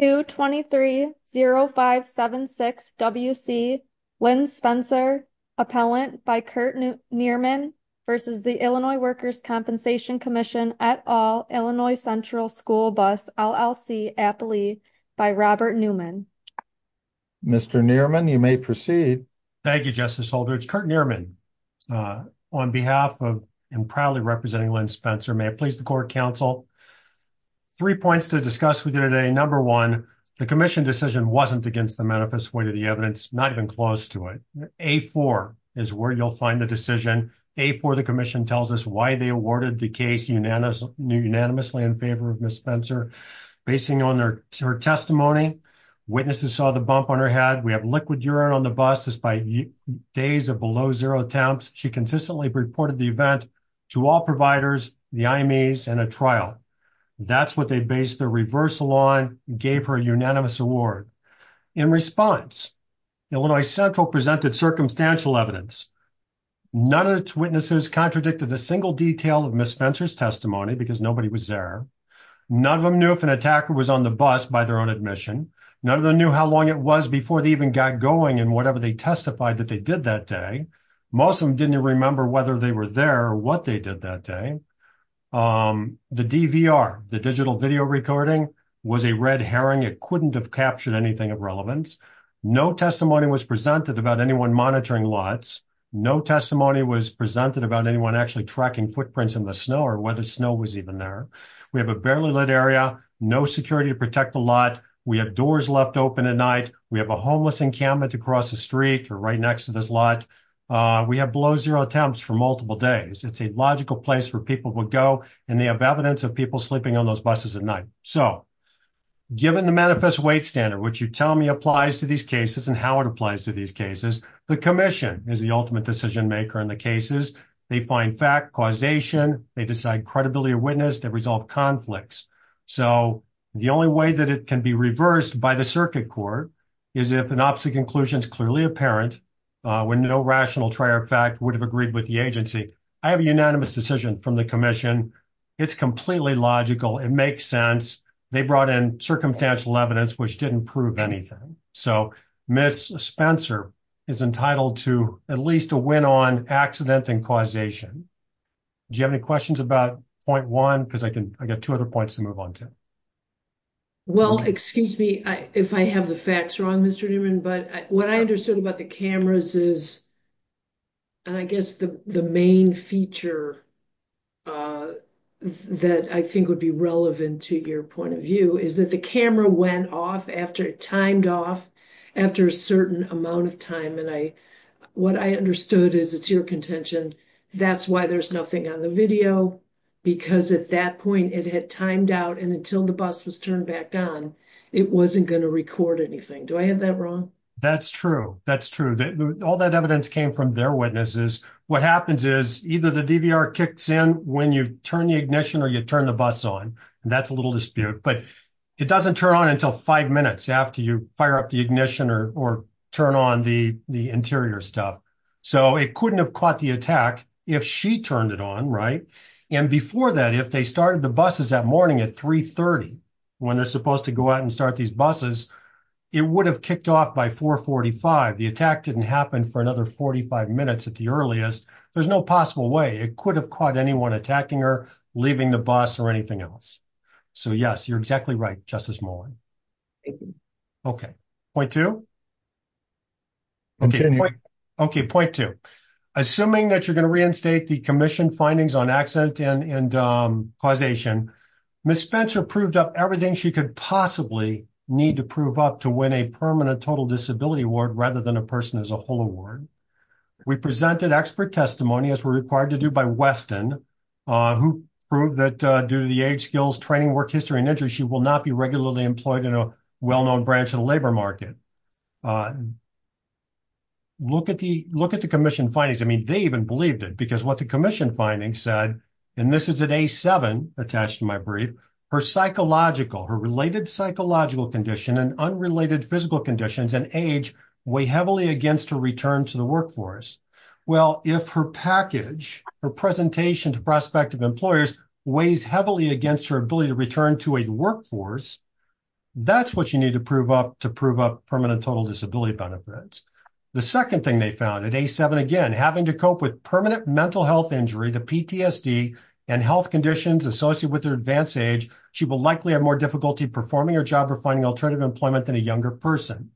2-23-0576-WC, Lynn Spencer, Appellant by Kurt Nearman v. Illinois Workers' Compensation Comm'n et al., Illinois Central School Bus, LLC, Appley, by Robert Newman. Mr. Nearman, you may proceed. Thank you, Justice Holdridge. Kurt Nearman, on behalf of and proudly representing Lynn Spencer, may I please the Court of Counsel? Three points to discuss with you today. Number one, the Commission decision wasn't against the manifest way to the evidence, not even close to it. A-4 is where you'll find the decision. A-4, the Commission tells us why they awarded the case unanimously in favor of Ms. Spencer. Basing on her testimony, witnesses saw the bump on her head. We have liquid urine on the bus despite days of below zero temps. She consistently reported the event to all providers, the IMEs, and at trial. That's what they based their reversal on, gave her a unanimous award. In response, Illinois Central presented circumstantial evidence. None of its witnesses contradicted a single detail of Ms. Spencer's testimony because nobody was there. None of them knew if an attacker was on the bus by their own admission. None of them knew how long it was before they even got going in whatever they testified that they did that day. Most of them didn't even remember whether they were there or what they did that day. The DVR, the digital video recording, was a red herring. It couldn't have captured anything of relevance. No testimony was presented about anyone monitoring lots. No testimony was presented about anyone actually tracking footprints in the snow or whether snow was even there. We have a barely lit area, no security to protect the lot. We have doors left open at night. We have a homeless encampment across the street or right next to this lot. We have below zero attempts for multiple days. It's a logical place where people would go and they have evidence of people sleeping on those buses at night. So given the manifest weight standard, which you tell me applies to these cases and how it applies to these cases, the commission is the ultimate decision maker in the cases. They find fact, causation, they decide credibility of witness, they resolve conflicts. So the only way that it can be reversed by the circuit court is if an opposite conclusion is clearly apparent when no rational trier of fact would have agreed with the agency. I have a unanimous decision from the commission. It's completely logical. It makes sense. They brought in circumstantial evidence, which didn't prove anything. So Ms. Spencer is entitled to at least a win on accident and causation. Do you have any questions about point one? Because I can, I got two other points to move on to. Well, excuse me if I have the facts wrong, Mr. Newman, but what I understood about the cameras is, and I guess the main feature that I think would be relevant to your point of view is that the camera went off after it timed off after a certain amount of time. And I, what I understood is it's your contention. That's why there's nothing on the video because at that point it had timed out and until the bus was turned back on, it wasn't going to record anything. Do I have that wrong? That's true. That's true. All that evidence came from their witnesses. What happens is either the DVR kicks in when you turn the ignition or you turn the bus on and that's a little dispute, but it doesn't turn on until five minutes after you fire up the ignition or turn on the interior stuff. So it couldn't have caught the attack if she turned it on, right? And before that, if they started the buses that morning at 3.30, when they're supposed to go out and start these buses, it would have kicked off by 4.45. The attack didn't happen for another 45 minutes at the earliest. There's no possible way it could have caught anyone attacking her, leaving the bus or anything else. So, yes, you're exactly right, Justice Mullen. Thank you. Okay. Point two? Continue. Okay. Point two. Assuming that you're going to reinstate the commission findings on accident and causation, Ms. Spencer proved up everything she could possibly need to prove up to win a permanent total disability award rather than a person as a whole award. We presented expert testimony, as we're required to do by Weston, who proved that due to the age, skills, training, work history, and injuries, she will not be regularly employed in a well-known branch of the labor market. Look at the commission findings. I mean, they even believed it because what the commission findings said, and this is at A7 attached to my brief, her psychological, her related psychological condition and unrelated physical conditions and age weigh heavily against her return to the workforce. Well, if her package, her presentation to prospective employers weighs heavily against her ability to return to a workforce, that's what you need to prove up to prove up permanent total disability benefits. The second thing they found at A7, again, having to cope with permanent mental health injury to PTSD and health conditions associated with her advanced age, she will likely have more difficulty performing her job or finding alternative employment than a younger person.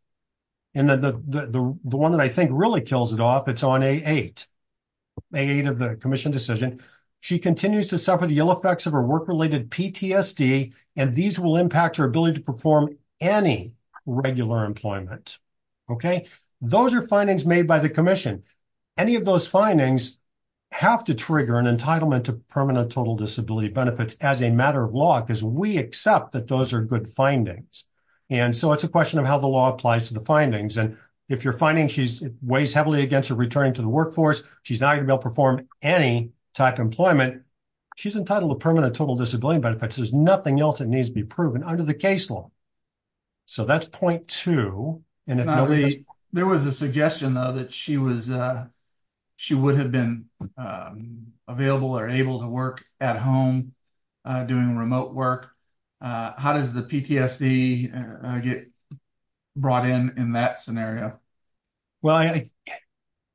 And then the one that I think really kills it off, it's on A8, A8 of the commission decision. She continues to suffer the ill effects of her work-related PTSD, and these will impact her ability to perform any regular employment, okay? Those are findings made by the commission. Any of those findings have to trigger an entitlement to permanent total disability benefits as a matter of law, because we accept that those are good findings. And so it's a question of how the law applies to the findings. And if you're finding she's weighs heavily against her returning to the workforce, she's not going to be able to perform any type of employment, she's entitled to permanent total disability benefits. There's nothing else that needs to be proven under the case law. So that's point two. And if nobody... There was a suggestion, though, that she would have been available or able to work at home doing remote work. How does the PTSD get brought in in that scenario? Well,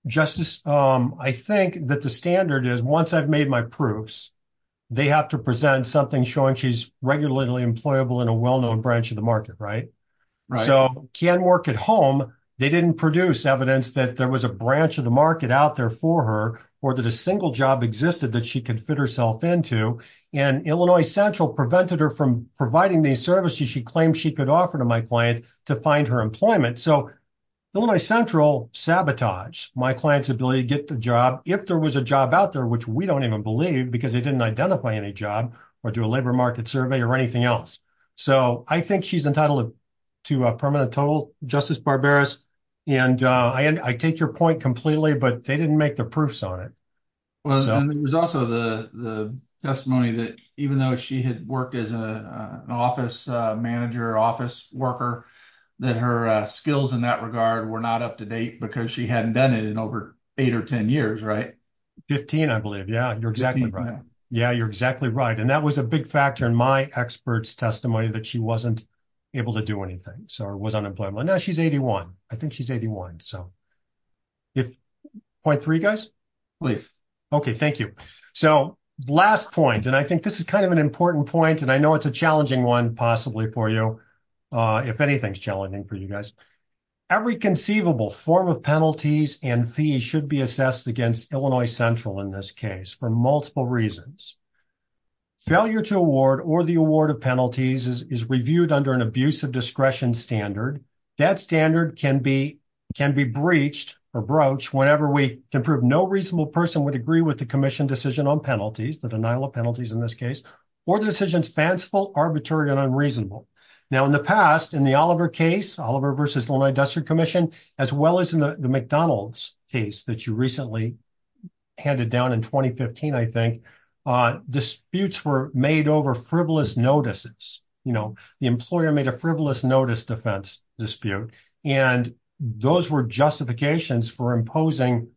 Justice, I think that the standard is once I've made my proofs, they have to present something showing she's regularly employable in a well-known branch of the market, right? So can work at home. They didn't produce evidence that there was a branch of the market out there for her, or that a single job existed that she could fit herself into. And Illinois Central prevented her from providing the services she claimed she could offer to my client to find her employment. So Illinois Central sabotaged my client's ability to get the job if there was a job out there, which we don't even believe because they didn't identify any job or do a labor market survey or anything else. So I think she's entitled to a permanent total, Justice Barbaros. And I take your point completely, but they didn't make the proofs on it. Well, and there was also the testimony that even though she had worked as an office manager, office worker, that her skills in that regard were not up to date because she hadn't done it in over eight or 10 years, right? 15, I believe. Yeah, you're exactly right. Yeah, you're exactly right. And that was a big factor in my expert's testimony that she wasn't able to do anything. So it was unemployable. And now she's 81. I think she's 81. So point three, guys? Please. Okay, thank you. So last point, and I think this is kind of an important point, and I know it's a challenging one possibly for you, if anything's challenging for you guys. Every conceivable form of penalties and fees should be assessed against Illinois Central in this case for multiple reasons. Failure to award or the award of penalties is reviewed under an abuse of discretion standard. That standard can be breached or broached whenever we can prove no reasonable person would agree with the commission decision on penalties, the denial of penalties in this case, or the decision's fanciful, arbitrary, and unreasonable. Now, in the past, in the Oliver case, Oliver versus Illinois District Commission, as well as in the McDonald's case that you recently handed down in 2015, I think, disputes were made over frivolous notices. The employer made a frivolous notice defense dispute, and those were justifications for imposing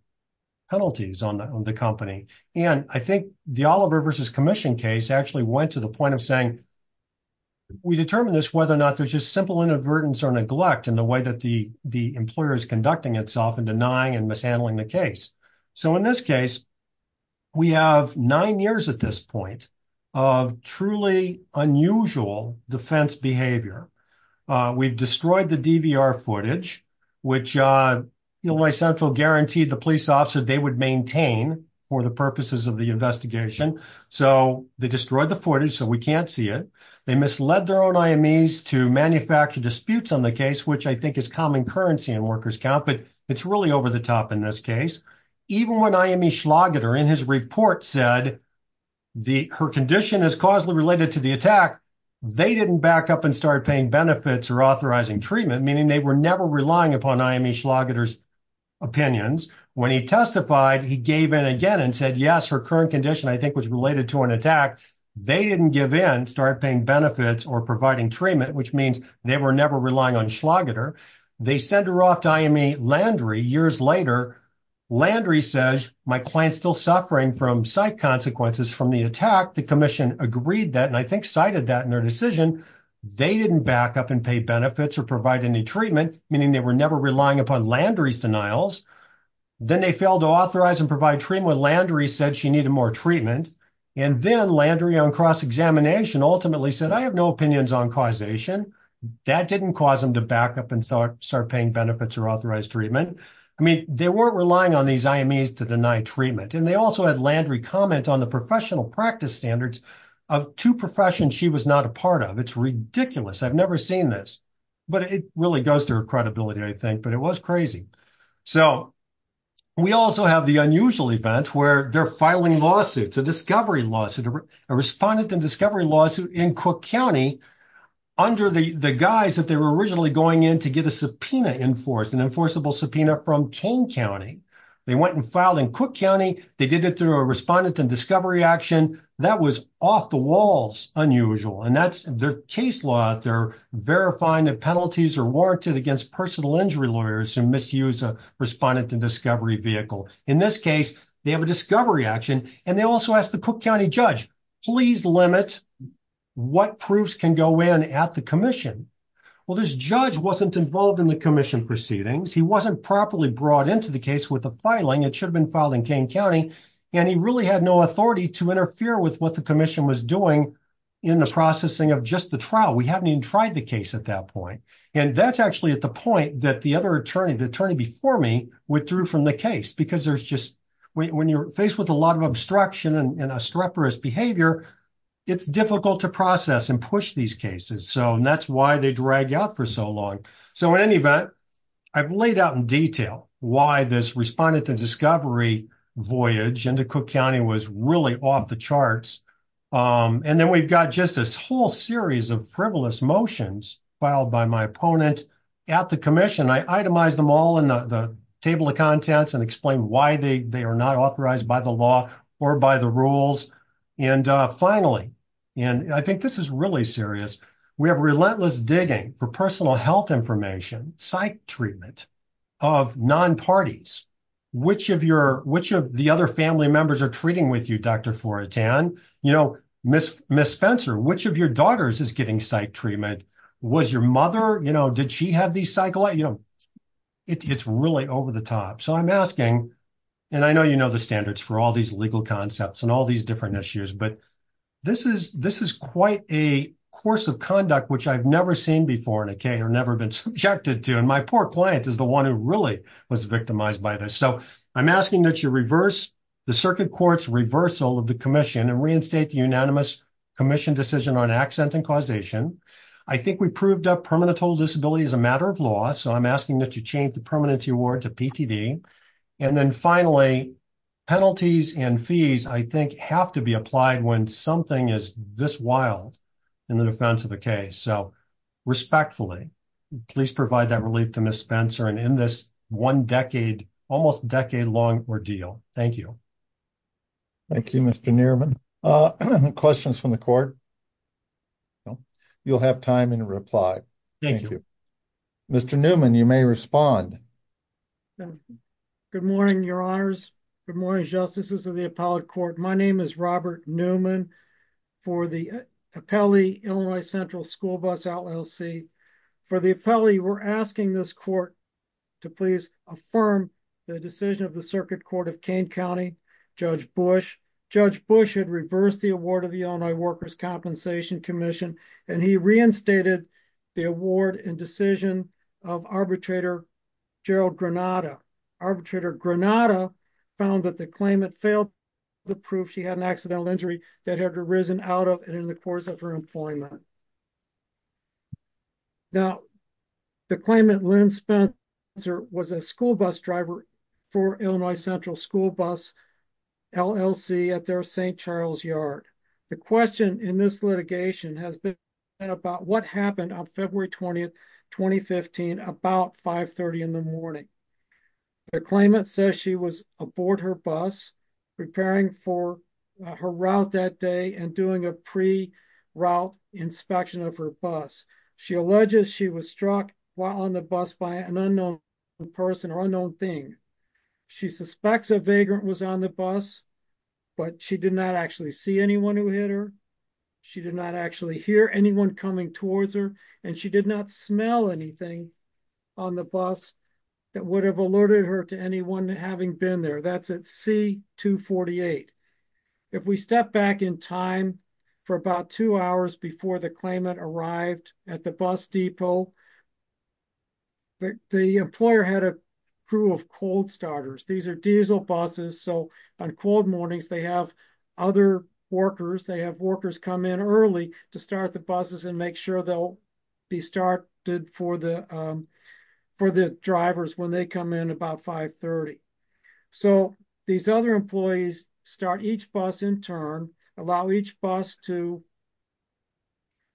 penalties on the company. And I think the Oliver versus commission case actually went to the point of saying, we determine this whether or not there's just simple inadvertence or neglect in the way that the employer is conducting itself and denying and mishandling the case. So in this case, we have nine years at this point of truly unusual defense behavior. We've destroyed the DVR footage, which Illinois Central guaranteed the police officer they would maintain for the purposes of the investigation. So they destroyed the footage, so we can't see it. They misled their own IMEs to manufacture disputes on the case, which I think is common in workers' count, but it's really over the top in this case. Even when IME Schlageter in his report said her condition is causally related to the attack, they didn't back up and start paying benefits or authorizing treatment, meaning they were never relying upon IME Schlageter's opinions. When he testified, he gave in again and said, yes, her current condition, I think, was related to an attack. They didn't give in, start paying benefits or providing treatment, which means they were never relying on Schlageter. They send her off to IME Landry years later. Landry says, my client's still suffering from psych consequences from the attack. The commission agreed that, and I think cited that in their decision. They didn't back up and pay benefits or provide any treatment, meaning they were never relying upon Landry's denials. Then they failed to authorize and provide treatment. Landry said she needed more treatment. And then Landry on cross-examination ultimately said, I have no opinions on causation. That didn't cause them to back up and start paying benefits or authorize treatment. I mean, they weren't relying on these IMEs to deny treatment. And they also had Landry comment on the professional practice standards of two professions she was not a part of. It's ridiculous. I've never seen this, but it really goes to her credibility, I think, but it was crazy. So we also have the unusual event where they're filing lawsuits, a discovery lawsuit, a respondent and discovery lawsuit in Cook County under the guise that they were originally going in to get a subpoena enforced, an enforceable subpoena from Kane County. They went and filed in Cook County. They did it through a respondent and discovery action that was off the walls unusual. And that's their case law. They're verifying that penalties are warranted against personal injury lawyers who misuse a respondent and discovery vehicle. In this case, they have a discovery action. And they also asked the Cook County judge, please limit what proofs can go in at the commission. Well, this judge wasn't involved in the commission proceedings. He wasn't properly brought into the case with the filing. It should have been filed in Kane County, and he really had no authority to interfere with what the commission was doing in the processing of just the trial. We haven't even tried the case at that point. And that's actually at the point that the other attorney, the attorney before me withdrew from the case because there's just, when you're faced with a lot of obstruction and a streporous behavior, it's difficult to process and push these cases. So that's why they drag out for so long. So in any event, I've laid out in detail why this respondent and discovery voyage into Cook County was really off the charts. And then we've got just this whole series of frivolous motions filed by my opponent at the commission. I itemized them all in the table of contents and explain why they are not authorized by the law or by the rules. And finally, and I think this is really serious. We have relentless digging for personal health information, psych treatment of non-parties. Which of your, which of the other family members are treating with you, Dr. Fortan? You know, Ms. Spencer, which of your daughters is getting psych treatment? Was your mother, you know, did she have these cycle? You know, it's really over the top. So I'm asking, and I know you know the standards for all these legal concepts and all these different issues, but this is quite a course of conduct, which I've never seen before in a case or never been subjected to. And my poor client is the one who really was victimized by this. So I'm asking that you reverse the circuit court's reversal of the commission and reinstate the unanimous commission decision on accident and causation. I think we proved up permanent total disability as a matter of law. So I'm asking that you change the permanency award to PTV. And then finally, penalties and fees, I think have to be applied when something is this wild in the defense of the case. So respectfully, please provide that relief to Ms. Spencer and in this one decade, almost decade long ordeal. Thank you. Thank you, Mr. Nierman. Questions from the court? You'll have time in reply. Thank you. Mr. Newman, you may respond. Good morning, your honors. Good morning, justices of the appellate court. My name is Robert Newman for the appellee, Illinois Central School Bus LLC. For the appellee, we're asking this court to please affirm the decision of the circuit court of Kane County, Judge Bush. Judge Bush had reversed the award of the Illinois Workers' Compensation Commission, and he reinstated the award and decision of arbitrator Gerald Granada. Arbitrator Granada found that the claimant failed to prove she had an accidental injury that had arisen out of and in the course of her employment. Now, the claimant, Lynn Spencer, was a school bus driver for Illinois Central School Bus LLC at their St. Charles Yard. The question in this litigation has been about what happened on February 20, 2015, about 5.30 in the morning. The claimant says she was aboard her bus, preparing for her route that day and doing a pre-route inspection of her bus. She alleges she was struck while on the bus by an unknown person or unknown thing. She suspects a vagrant was on the bus, but she did not actually see anyone who hit her. She did not actually hear anyone coming towards her, and she did not smell anything on the bus that would have alerted her to anyone having been there. That's at C-248. If we step back in time for about two hours before the claimant arrived at the bus depot, the employer had a crew of cold starters. These are diesel buses, so on cold mornings they have other workers come in early to start the buses and make sure they'll be started for the drivers when they come in about 5.30. So these other employees start each bus in turn, allow each bus to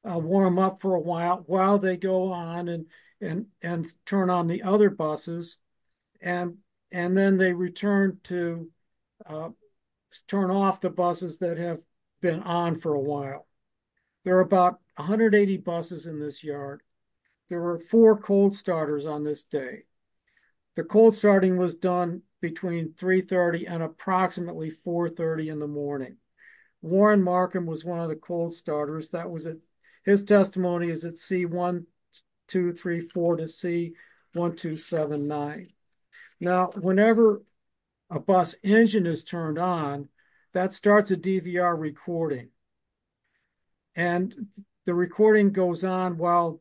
warm up for a while. While they go on and turn on the other buses, and then they return to turn off the buses that have been on for a while. There are about 180 buses in this yard. There were four cold starters on this day. The cold starting was done between 3.30 and approximately 4.30 in the morning. Warren Markham was one of the cold starters. His testimony is at C-1234 to C-1279. Now, whenever a bus engine is turned on, that starts a DVR recording. And the recording goes on while,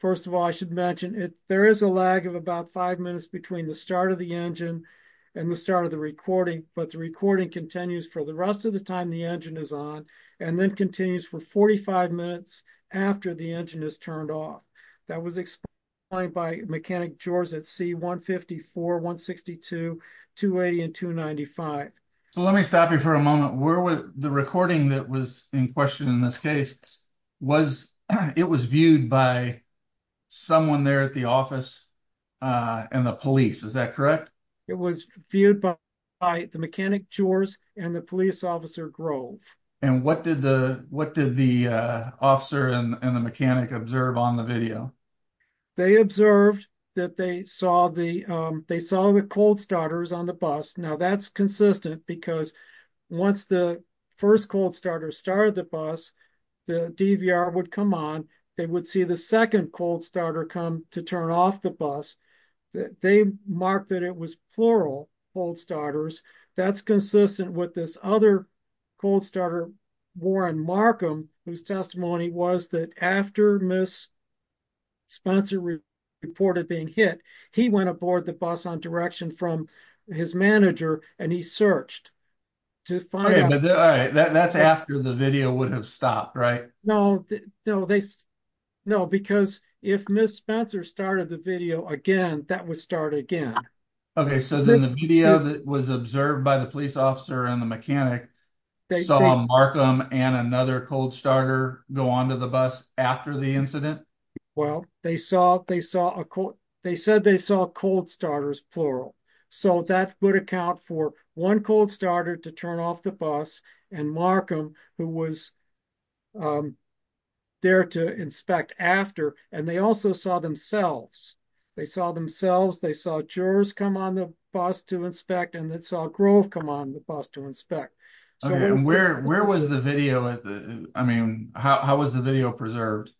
first of all, I should mention there is a lag of about five minutes between the start of the engine and the start of the recording, but the recording continues for the rest of the time the engine is on and then continues for 45 minutes after the engine is turned off. That was explained by Mechanic Jors at C-154, C-162, C-280, and C-295. So let me stop you for a moment. Where was the recording that was in question in this case, it was viewed by someone there at the office and the police, is that correct? It was viewed by the Mechanic Jors and the police officer Grove. And what did the officer and the mechanic observe on the video? They observed that they saw the cold starters on the bus. Now, that's consistent because once the first cold starter started the bus, the DVR would come on, they would see the second cold starter come to turn off the bus. They marked that it was plural cold starters. That's consistent with this other cold starter, Warren Markham, whose testimony was that after Ms. Spencer reported being hit, he went aboard the bus on direction from his manager and he searched to find out. Okay, but that's after the video would have stopped, right? No, because if Ms. Spencer started the video again, that would start again. Okay, so then the media that was observed by the police officer and the mechanic saw Markham and another cold starter go onto the bus after the incident? Well, they said they saw cold starters plural. So that would account for one cold starter to turn off the bus and Markham, who was there to inspect after. And they also saw themselves. They saw themselves. They saw Jors come on the bus to inspect and they saw Grove come on the bus to inspect. Okay, and where was the video? I mean, how was the video preserved?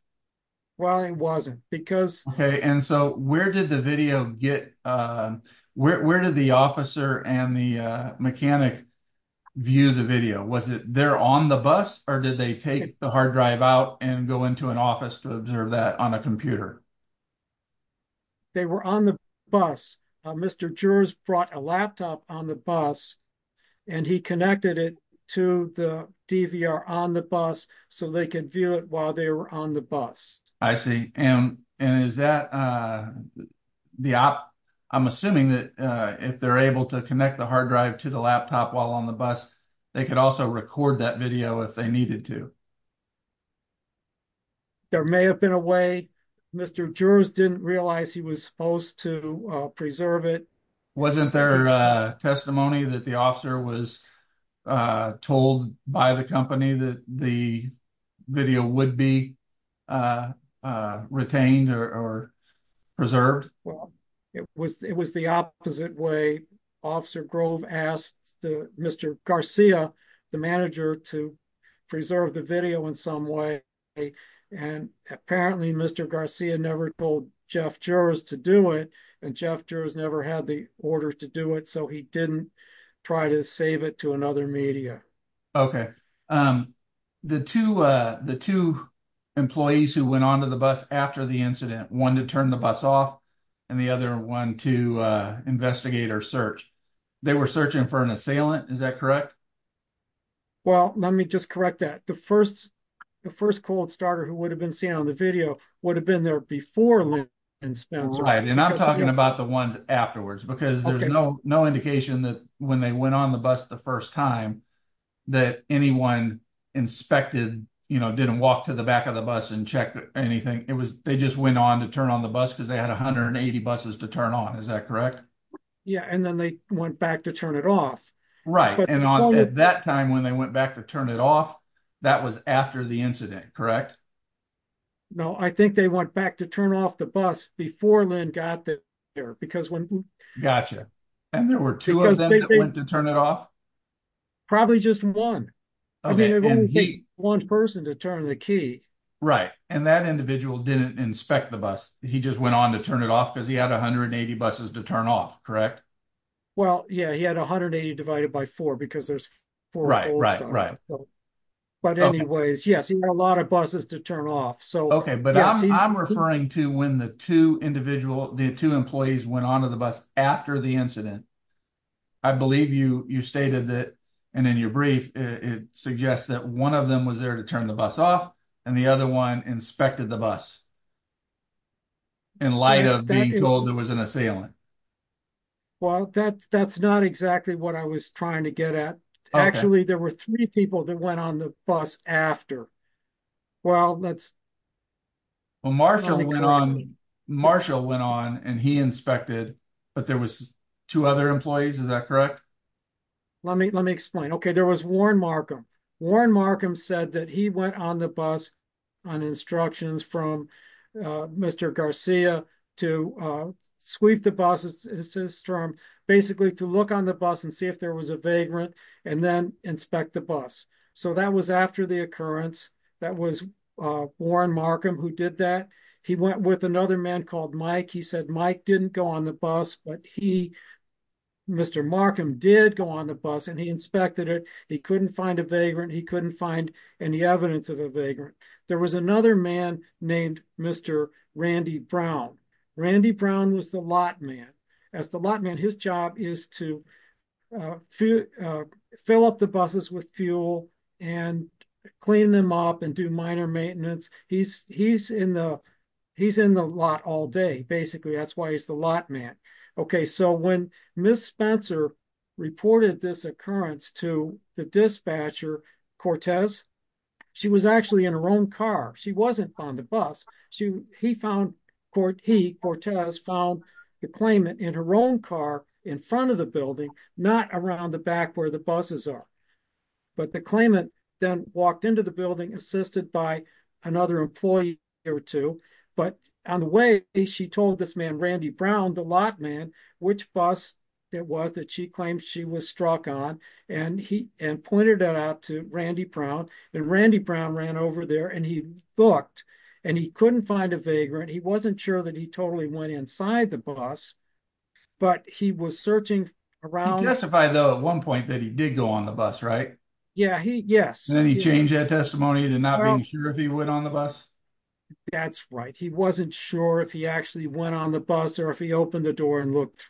Well, it wasn't because... And so where did the officer and the mechanic view the video? Was it there on the bus or did they take the hard drive out and go into an office to observe that on a computer? They were on the bus. Mr. Jors brought a laptop on the bus and he connected it to the DVR on the bus so they could view it while they were on the bus. I see. And is that... I'm assuming that if they're able to connect the hard drive to the laptop while on the bus, they could also record that video if they needed to. There may have been a way. Mr. Jors didn't realize he was supposed to preserve it. Wasn't there a testimony that the officer was told by the company that the video would be retained or preserved? Well, it was the opposite way. Officer Grove asked Mr. Garcia, the manager, to preserve the video in some way. And apparently Mr. Garcia never told Jeff Jors to do it and Jeff Jors never had the order to do it. So he didn't try to save it to another media. Okay. The two employees who went on to the bus after the incident, one to turn the bus off and the other one to investigate or search, they were searching for an assailant. Is that correct? Well, let me just correct that. The first cold starter who would have been seen on the video would have been there before Lynn and Spencer. Right. And I'm talking about the ones afterwards because there's no indication that when they went on the bus the first time that anyone inspected, you know, didn't walk to the back of the bus and check anything. It was they just went on to turn on the bus because they had 180 buses to turn on. Is that correct? Yeah. And then they went back to turn it off. Right. And at that time when they went back to turn it off, that was after the incident, correct? No, I think they went back to turn off the bus before Lynn got there. Gotcha. And there were two of them that went to turn it off? Probably just one. Okay. One person to turn the key. Right. And that individual didn't inspect the bus. He just went on to turn it off because he had 180 buses to turn off. Correct? Well, yeah, he had 180 divided by four because there's four cold starters. But anyways, yes, he had a lot of buses to turn off. Okay, but I'm referring to when the two employees went on to the bus after the incident. I believe you stated that and in your brief, it suggests that one of them was there to turn the bus off and the other one inspected the bus in light of being told there was an assailant. Well, that's not exactly what I was trying to get at. Actually, there were three people that went on the bus after. Well, let's. Marshall went on and he inspected, but there was two other employees. Is that correct? Let me explain. Okay, there was Warren Markham. Warren Markham said that he went on the bus on instructions from Mr. Garcia to sweep the buses, his term, basically to look on the bus and see if there was a vagrant and then inspect the bus. So that was after the occurrence. That was Warren Markham who did that. He went with another man called Mike. He said Mike didn't go on the bus, but he, Mr. Markham, did go on the bus and he inspected it. He couldn't find a vagrant. He couldn't find any evidence of a vagrant. There was another man named Mr. Randy Brown. Randy Brown was the lot man. As the lot man, his job is to fill up the buses with fuel and clean them up and do minor maintenance. He's in the lot all day, basically. That's why he's the lot man. Okay, so when Miss Spencer reported this occurrence to the dispatcher, Cortez, she was actually in her own car. She wasn't on the bus. He, Cortez, found the claimant in her own car in front of the building, not around the back where the buses are. But the claimant then walked into the building, assisted by another employee or two. But on the way, she told this man, Randy Brown, the lot man, which bus it was that she claimed she was struck on and pointed that out to Randy Brown. Randy Brown ran over there, and he looked, and he couldn't find a vagrant. He wasn't sure that he totally went inside the bus, but he was searching around. He testified, though, at one point that he did go on the bus, right? Yeah, he, yes. Then he changed that testimony to not being sure if he went on the bus? That's right. He wasn't sure if he actually went on the bus or if he opened the door and looked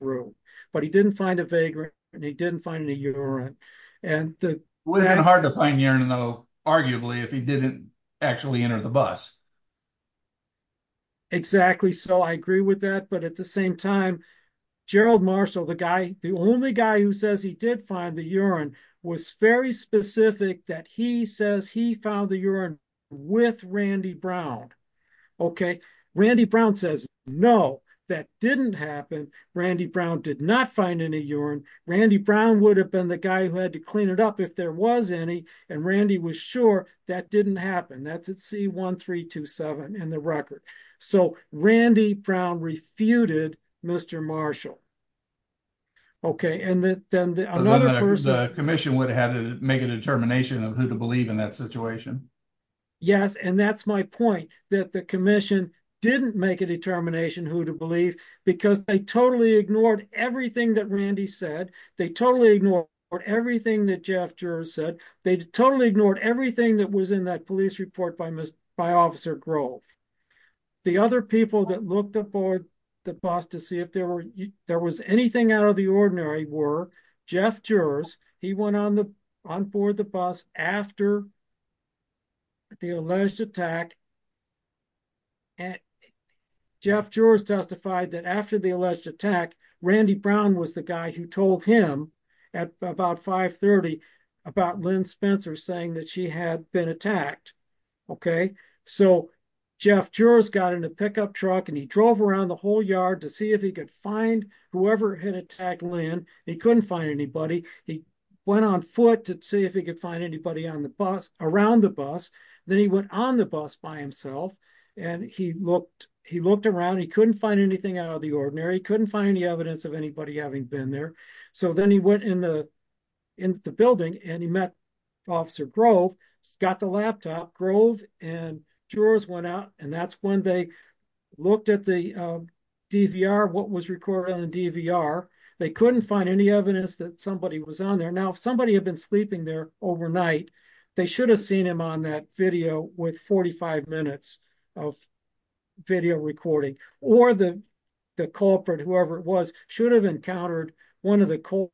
through. But he didn't find a vagrant, and he didn't find any urine. And it would have been hard to find urine, though, arguably, if he didn't actually enter the bus. Exactly. So I agree with that. But at the same time, Gerald Marshall, the guy, the only guy who says he did find the urine, was very specific that he says he found the urine with Randy Brown. Okay. Randy Brown says, no, that didn't happen. Randy Brown did not find any urine. Randy Brown would have been the guy who had to clean it up if there was any, and Randy was sure that didn't happen. That's at C1327 in the record. So Randy Brown refuted Mr. Marshall. Okay. And then another person— The commission would have had to make a determination of who to believe in that situation. Yes, and that's my point, that the commission didn't make a determination who to believe because they totally ignored everything that Randy said. They totally ignored everything that Jeff Juris said. They totally ignored everything that was in that police report by Officer Grove. The other people that looked aboard the bus to see if there was anything out of the ordinary were Jeff Juris. He went on board the bus after the alleged attack. And Jeff Juris testified that after the alleged attack, Randy Brown was the guy who told him at about 530 about Lynn Spencer saying that she had been attacked. Okay, so Jeff Juris got in a pickup truck and he drove around the whole yard to see if he could find whoever had attacked Lynn. He couldn't find anybody. He went on foot to see if he could find anybody on the bus, around the bus. Then he went on the bus by himself and he looked around. He couldn't find anything out of the ordinary. He couldn't find any evidence of anybody having been there. So then he went in the building and he met Officer Grove, got the laptop. Grove and Juris went out and that's when they looked at the DVR, what was recorded on the DVR. They couldn't find any evidence that somebody was on there. Now, if somebody had been sleeping there overnight, they should have seen him on that video with 45 minutes of video recording. Or the culprit, whoever it was, should have encountered one of the cold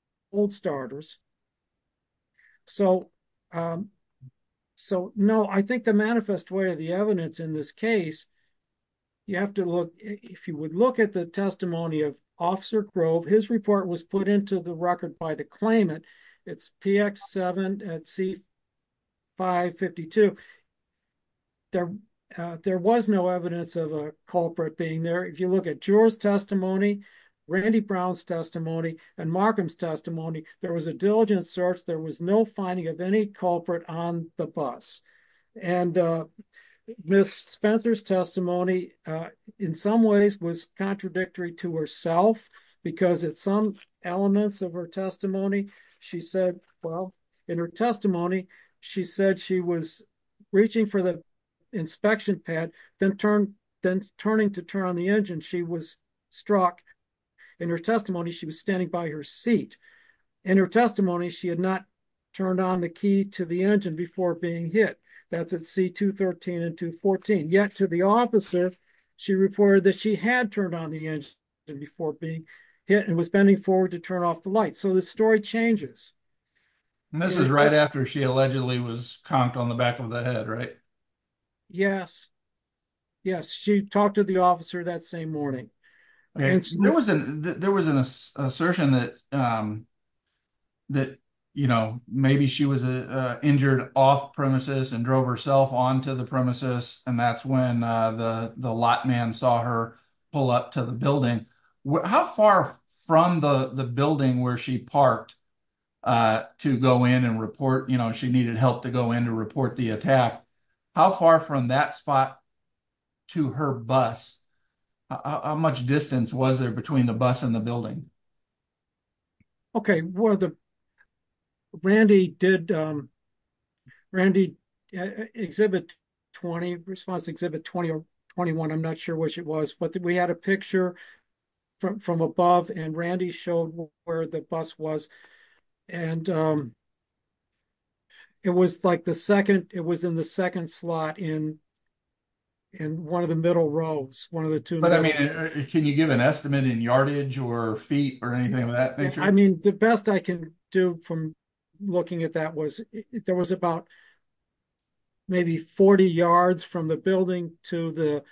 starters. So, no, I think the manifest way of the evidence in this case, you have to look, if you would look at the testimony of Officer Grove, his report was the record by the claimant. It's PX7 at C552. There was no evidence of a culprit being there. If you look at Jura's testimony, Randy Brown's testimony, and Markham's testimony, there was a diligent search. There was no finding of any culprit on the bus. And Ms. Spencer's testimony, in some ways, was contradictory to herself, because at some elements of her testimony, she said, well, in her testimony, she said she was reaching for the inspection pad, then turning to turn on the engine. She was struck. In her testimony, she was standing by her seat. In her testimony, she had not turned on the key to the engine before being hit. That's at C213 and 214. Yet to the opposite, she reported that she had turned on the engine before being hit and was bending forward to turn off the light. So the story changes. And this is right after she allegedly was conked on the back of the head, right? Yes. Yes, she talked to the officer that same morning. There was an assertion that, you know, maybe she was injured off-premises and drove herself on to the premises. And that's when the lot man saw her pull up to the building. How far from the building where she parked to go in and report, you know, she needed help to go in to report the attack? How far from that spot to her bus? How much distance was there between the bus and the building? Okay. Randy did exhibit 20, response exhibit 20 or 21. I'm not sure which it was. But we had a picture from above and Randy showed where the bus was. And it was like the second. It was in the second slot in one of the middle roads, one of the two. Can you give an estimate in yardage or feet or anything of that nature? I mean, the best I can do from looking at that was there was about maybe 40 yards from the building to the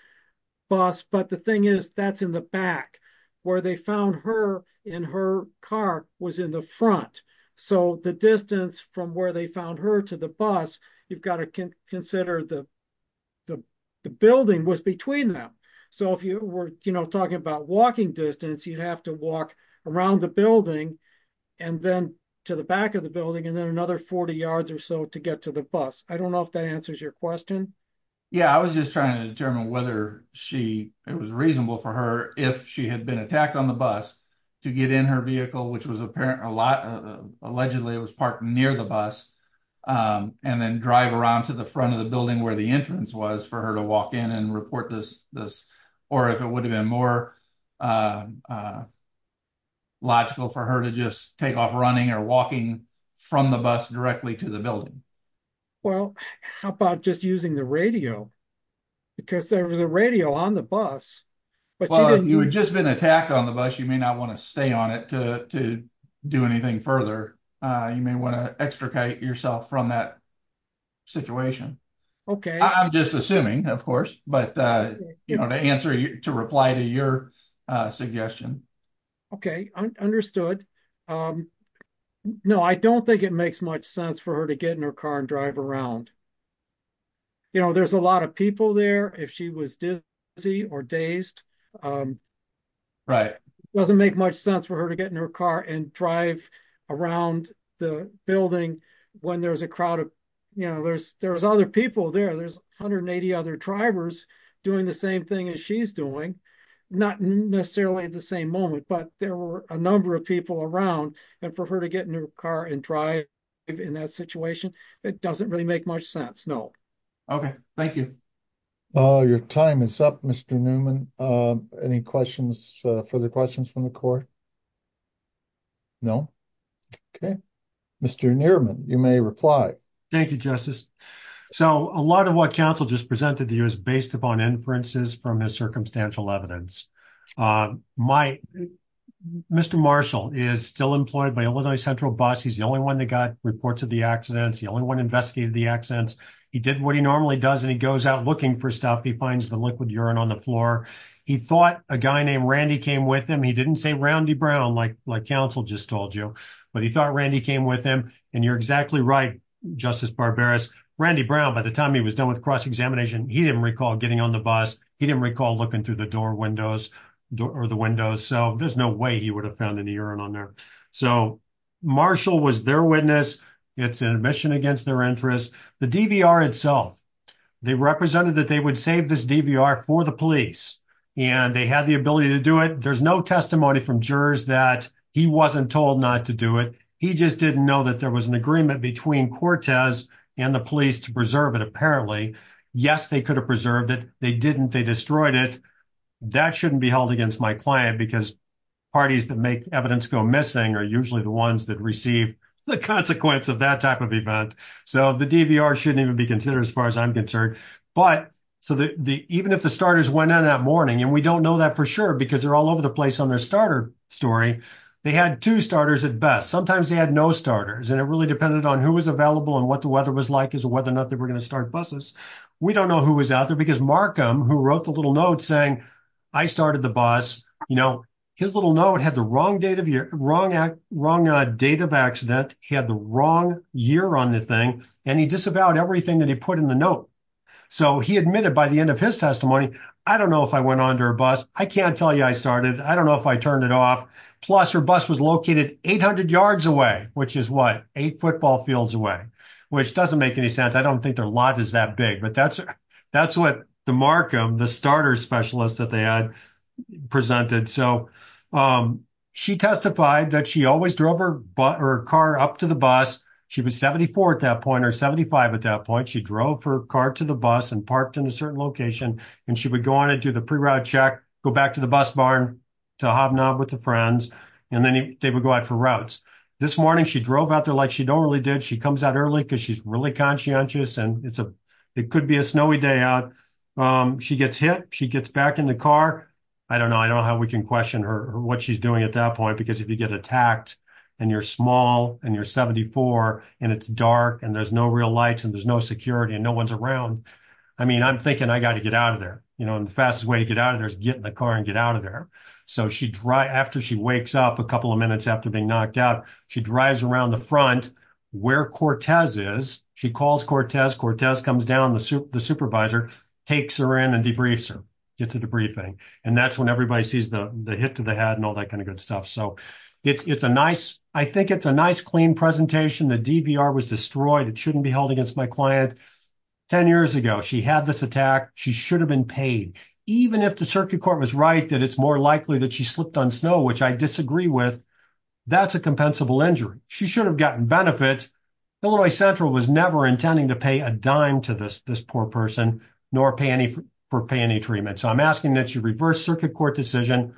bus. But the thing is that's in the back where they found her in her car was in the front. So the distance from where they found her to the bus, you've got to consider the building was between them. So if you were, you know, talking about walking distance, you'd have to walk around the building and then to the back of the building and then another 40 yards or so to get to the bus. I don't know if that answers your question. Yeah, I was just trying to determine whether she, it was reasonable for her if she had been attacked on the bus to get in her vehicle, which was apparently a lot. Allegedly, it was parked near the bus and then drive around to the front of the building where the entrance was for her to walk in and report this. Or if it would have been more logical for her to just take off running or walking from the bus directly to the building. Well, how about just using the radio? Because there was a radio on the bus. Well, if you had just been attacked on the bus, you may not want to stay on it to do anything further. You may want to extricate yourself from that situation. I'm just assuming, of course, but to reply to your suggestion. Okay, understood. No, I don't think it makes much sense for her to get in her car and drive around. There's a lot of people there. If she was dizzy or dazed, it doesn't make much sense for her to get in her car and drive around the building when there's a crowd. There's other people there. There's 180 other drivers doing the same thing as she's doing. Not necessarily at the same moment, but there were a number of people around. And for her to get in her car and drive in that situation, it doesn't really make much sense. No. Okay, thank you. Your time is up, Mr. Newman. Any questions, further questions from the court? No. Okay, Mr. Newman, you may reply. Thank you, Justice. So a lot of what counsel just presented to you is based upon inferences from the circumstantial evidence. Mr. Marshall is still employed by Illinois Central Bus. He's the only one that got reports of the accidents. The only one investigated the accidents. He did what he normally does, and he goes out looking for stuff. He finds the liquid urine on the floor. He thought a guy named Randy came with him. He didn't say Roundy Brown, like counsel just told you, but he thought Randy came with him. And you're exactly right, Justice Barberis. Randy Brown, by the time he was done with cross-examination, he didn't recall getting on the bus. He didn't recall looking through the door windows or the windows. So there's no way he would have found any urine on there. So Marshall was their witness. It's an admission against their interest. The DVR itself, they represented that they would save this DVR for the police. And they had the ability to do it. There's no testimony from jurors that he wasn't told not to do it. He just didn't know that there was an agreement between Cortez and the police to preserve it, apparently. Yes, they could have preserved it. They didn't. They destroyed it. That shouldn't be held against my client, because parties that make evidence go missing are usually the ones that receive the consequence of that type of event. So the DVR shouldn't even be considered as far as I'm concerned. But even if the starters went in that morning, and we don't know that for sure, because they're all over the place on their starter story, they had two starters at best. Sometimes they had no starters, and it really depended on who was available and what the weather was like as to whether or not they were going to start buses. We don't know who was out there, because Markham, who wrote the little note saying, I started the bus, his little note had the wrong date of accident. He had the wrong year on the thing. And he disavowed everything that he put in the note. So he admitted by the end of his testimony, I don't know if I went onto a bus. I can't tell you I started. I don't know if I turned it off. Plus, her bus was located 800 yards away, which is what? Eight football fields away, which doesn't make any sense. I don't think their lot is that big. But that's what the Markham, the starter specialist that they had presented. So she testified that she always drove her car up to the bus. She was 74 at that point, or 75 at that point. She drove her car to the bus and parked in a certain location. And she would go on and do the pre-ride check, go back to the bus barn to Hobnob with the friends. And then they would go out for routes. This morning, she drove out there like she normally did. She comes out early because she's really conscientious. And it could be a snowy day out. She gets hit. She gets back in the car. I don't know. I don't know how we can question what she's doing at that point. Because if you get attacked, and you're small, and you're 74, and it's dark, and there's no real lights, and there's no security, and no one's around. I mean, I'm thinking I got to get out of there. And the fastest way to get out of there is get in the car and get out of there. So after she wakes up a couple of minutes after being knocked out, she drives around the front where Cortez is. She calls Cortez. Cortez comes down, the supervisor takes her in and debriefs her. It's a debriefing. And that's when everybody sees the hit to the head and all that kind of good stuff. So I think it's a nice, clean presentation. The DVR was destroyed. It shouldn't be held against my client. 10 years ago, she had this attack. She should have been paid. Even if the circuit court was right that it's more likely that she slipped on snow, which I disagree with, that's a compensable injury. She should have gotten benefits. Illinois Central was never intending to pay a dime to this poor person, nor pay any for pay any treatment. So I'm asking that you reverse circuit court decision.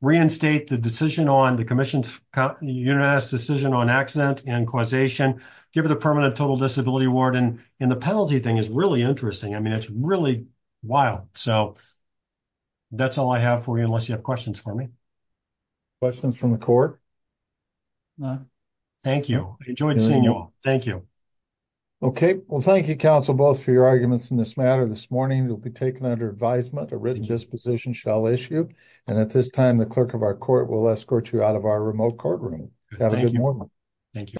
Reinstate the decision on the commission's unanimous decision on accident and causation. Give it a permanent total disability award. And the penalty thing is really interesting. I mean, it's really wild. So that's all I have for you, unless you have questions for me. Questions from the court? Thank you. I enjoyed seeing you all. Thank you. Okay. Well, thank you, counsel, both for your arguments in this matter. This morning, it will be taken under advisement. A written disposition shall issue. And at this time, the clerk of our court will escort you out of our remote courtroom. Have a good morning. Thank you.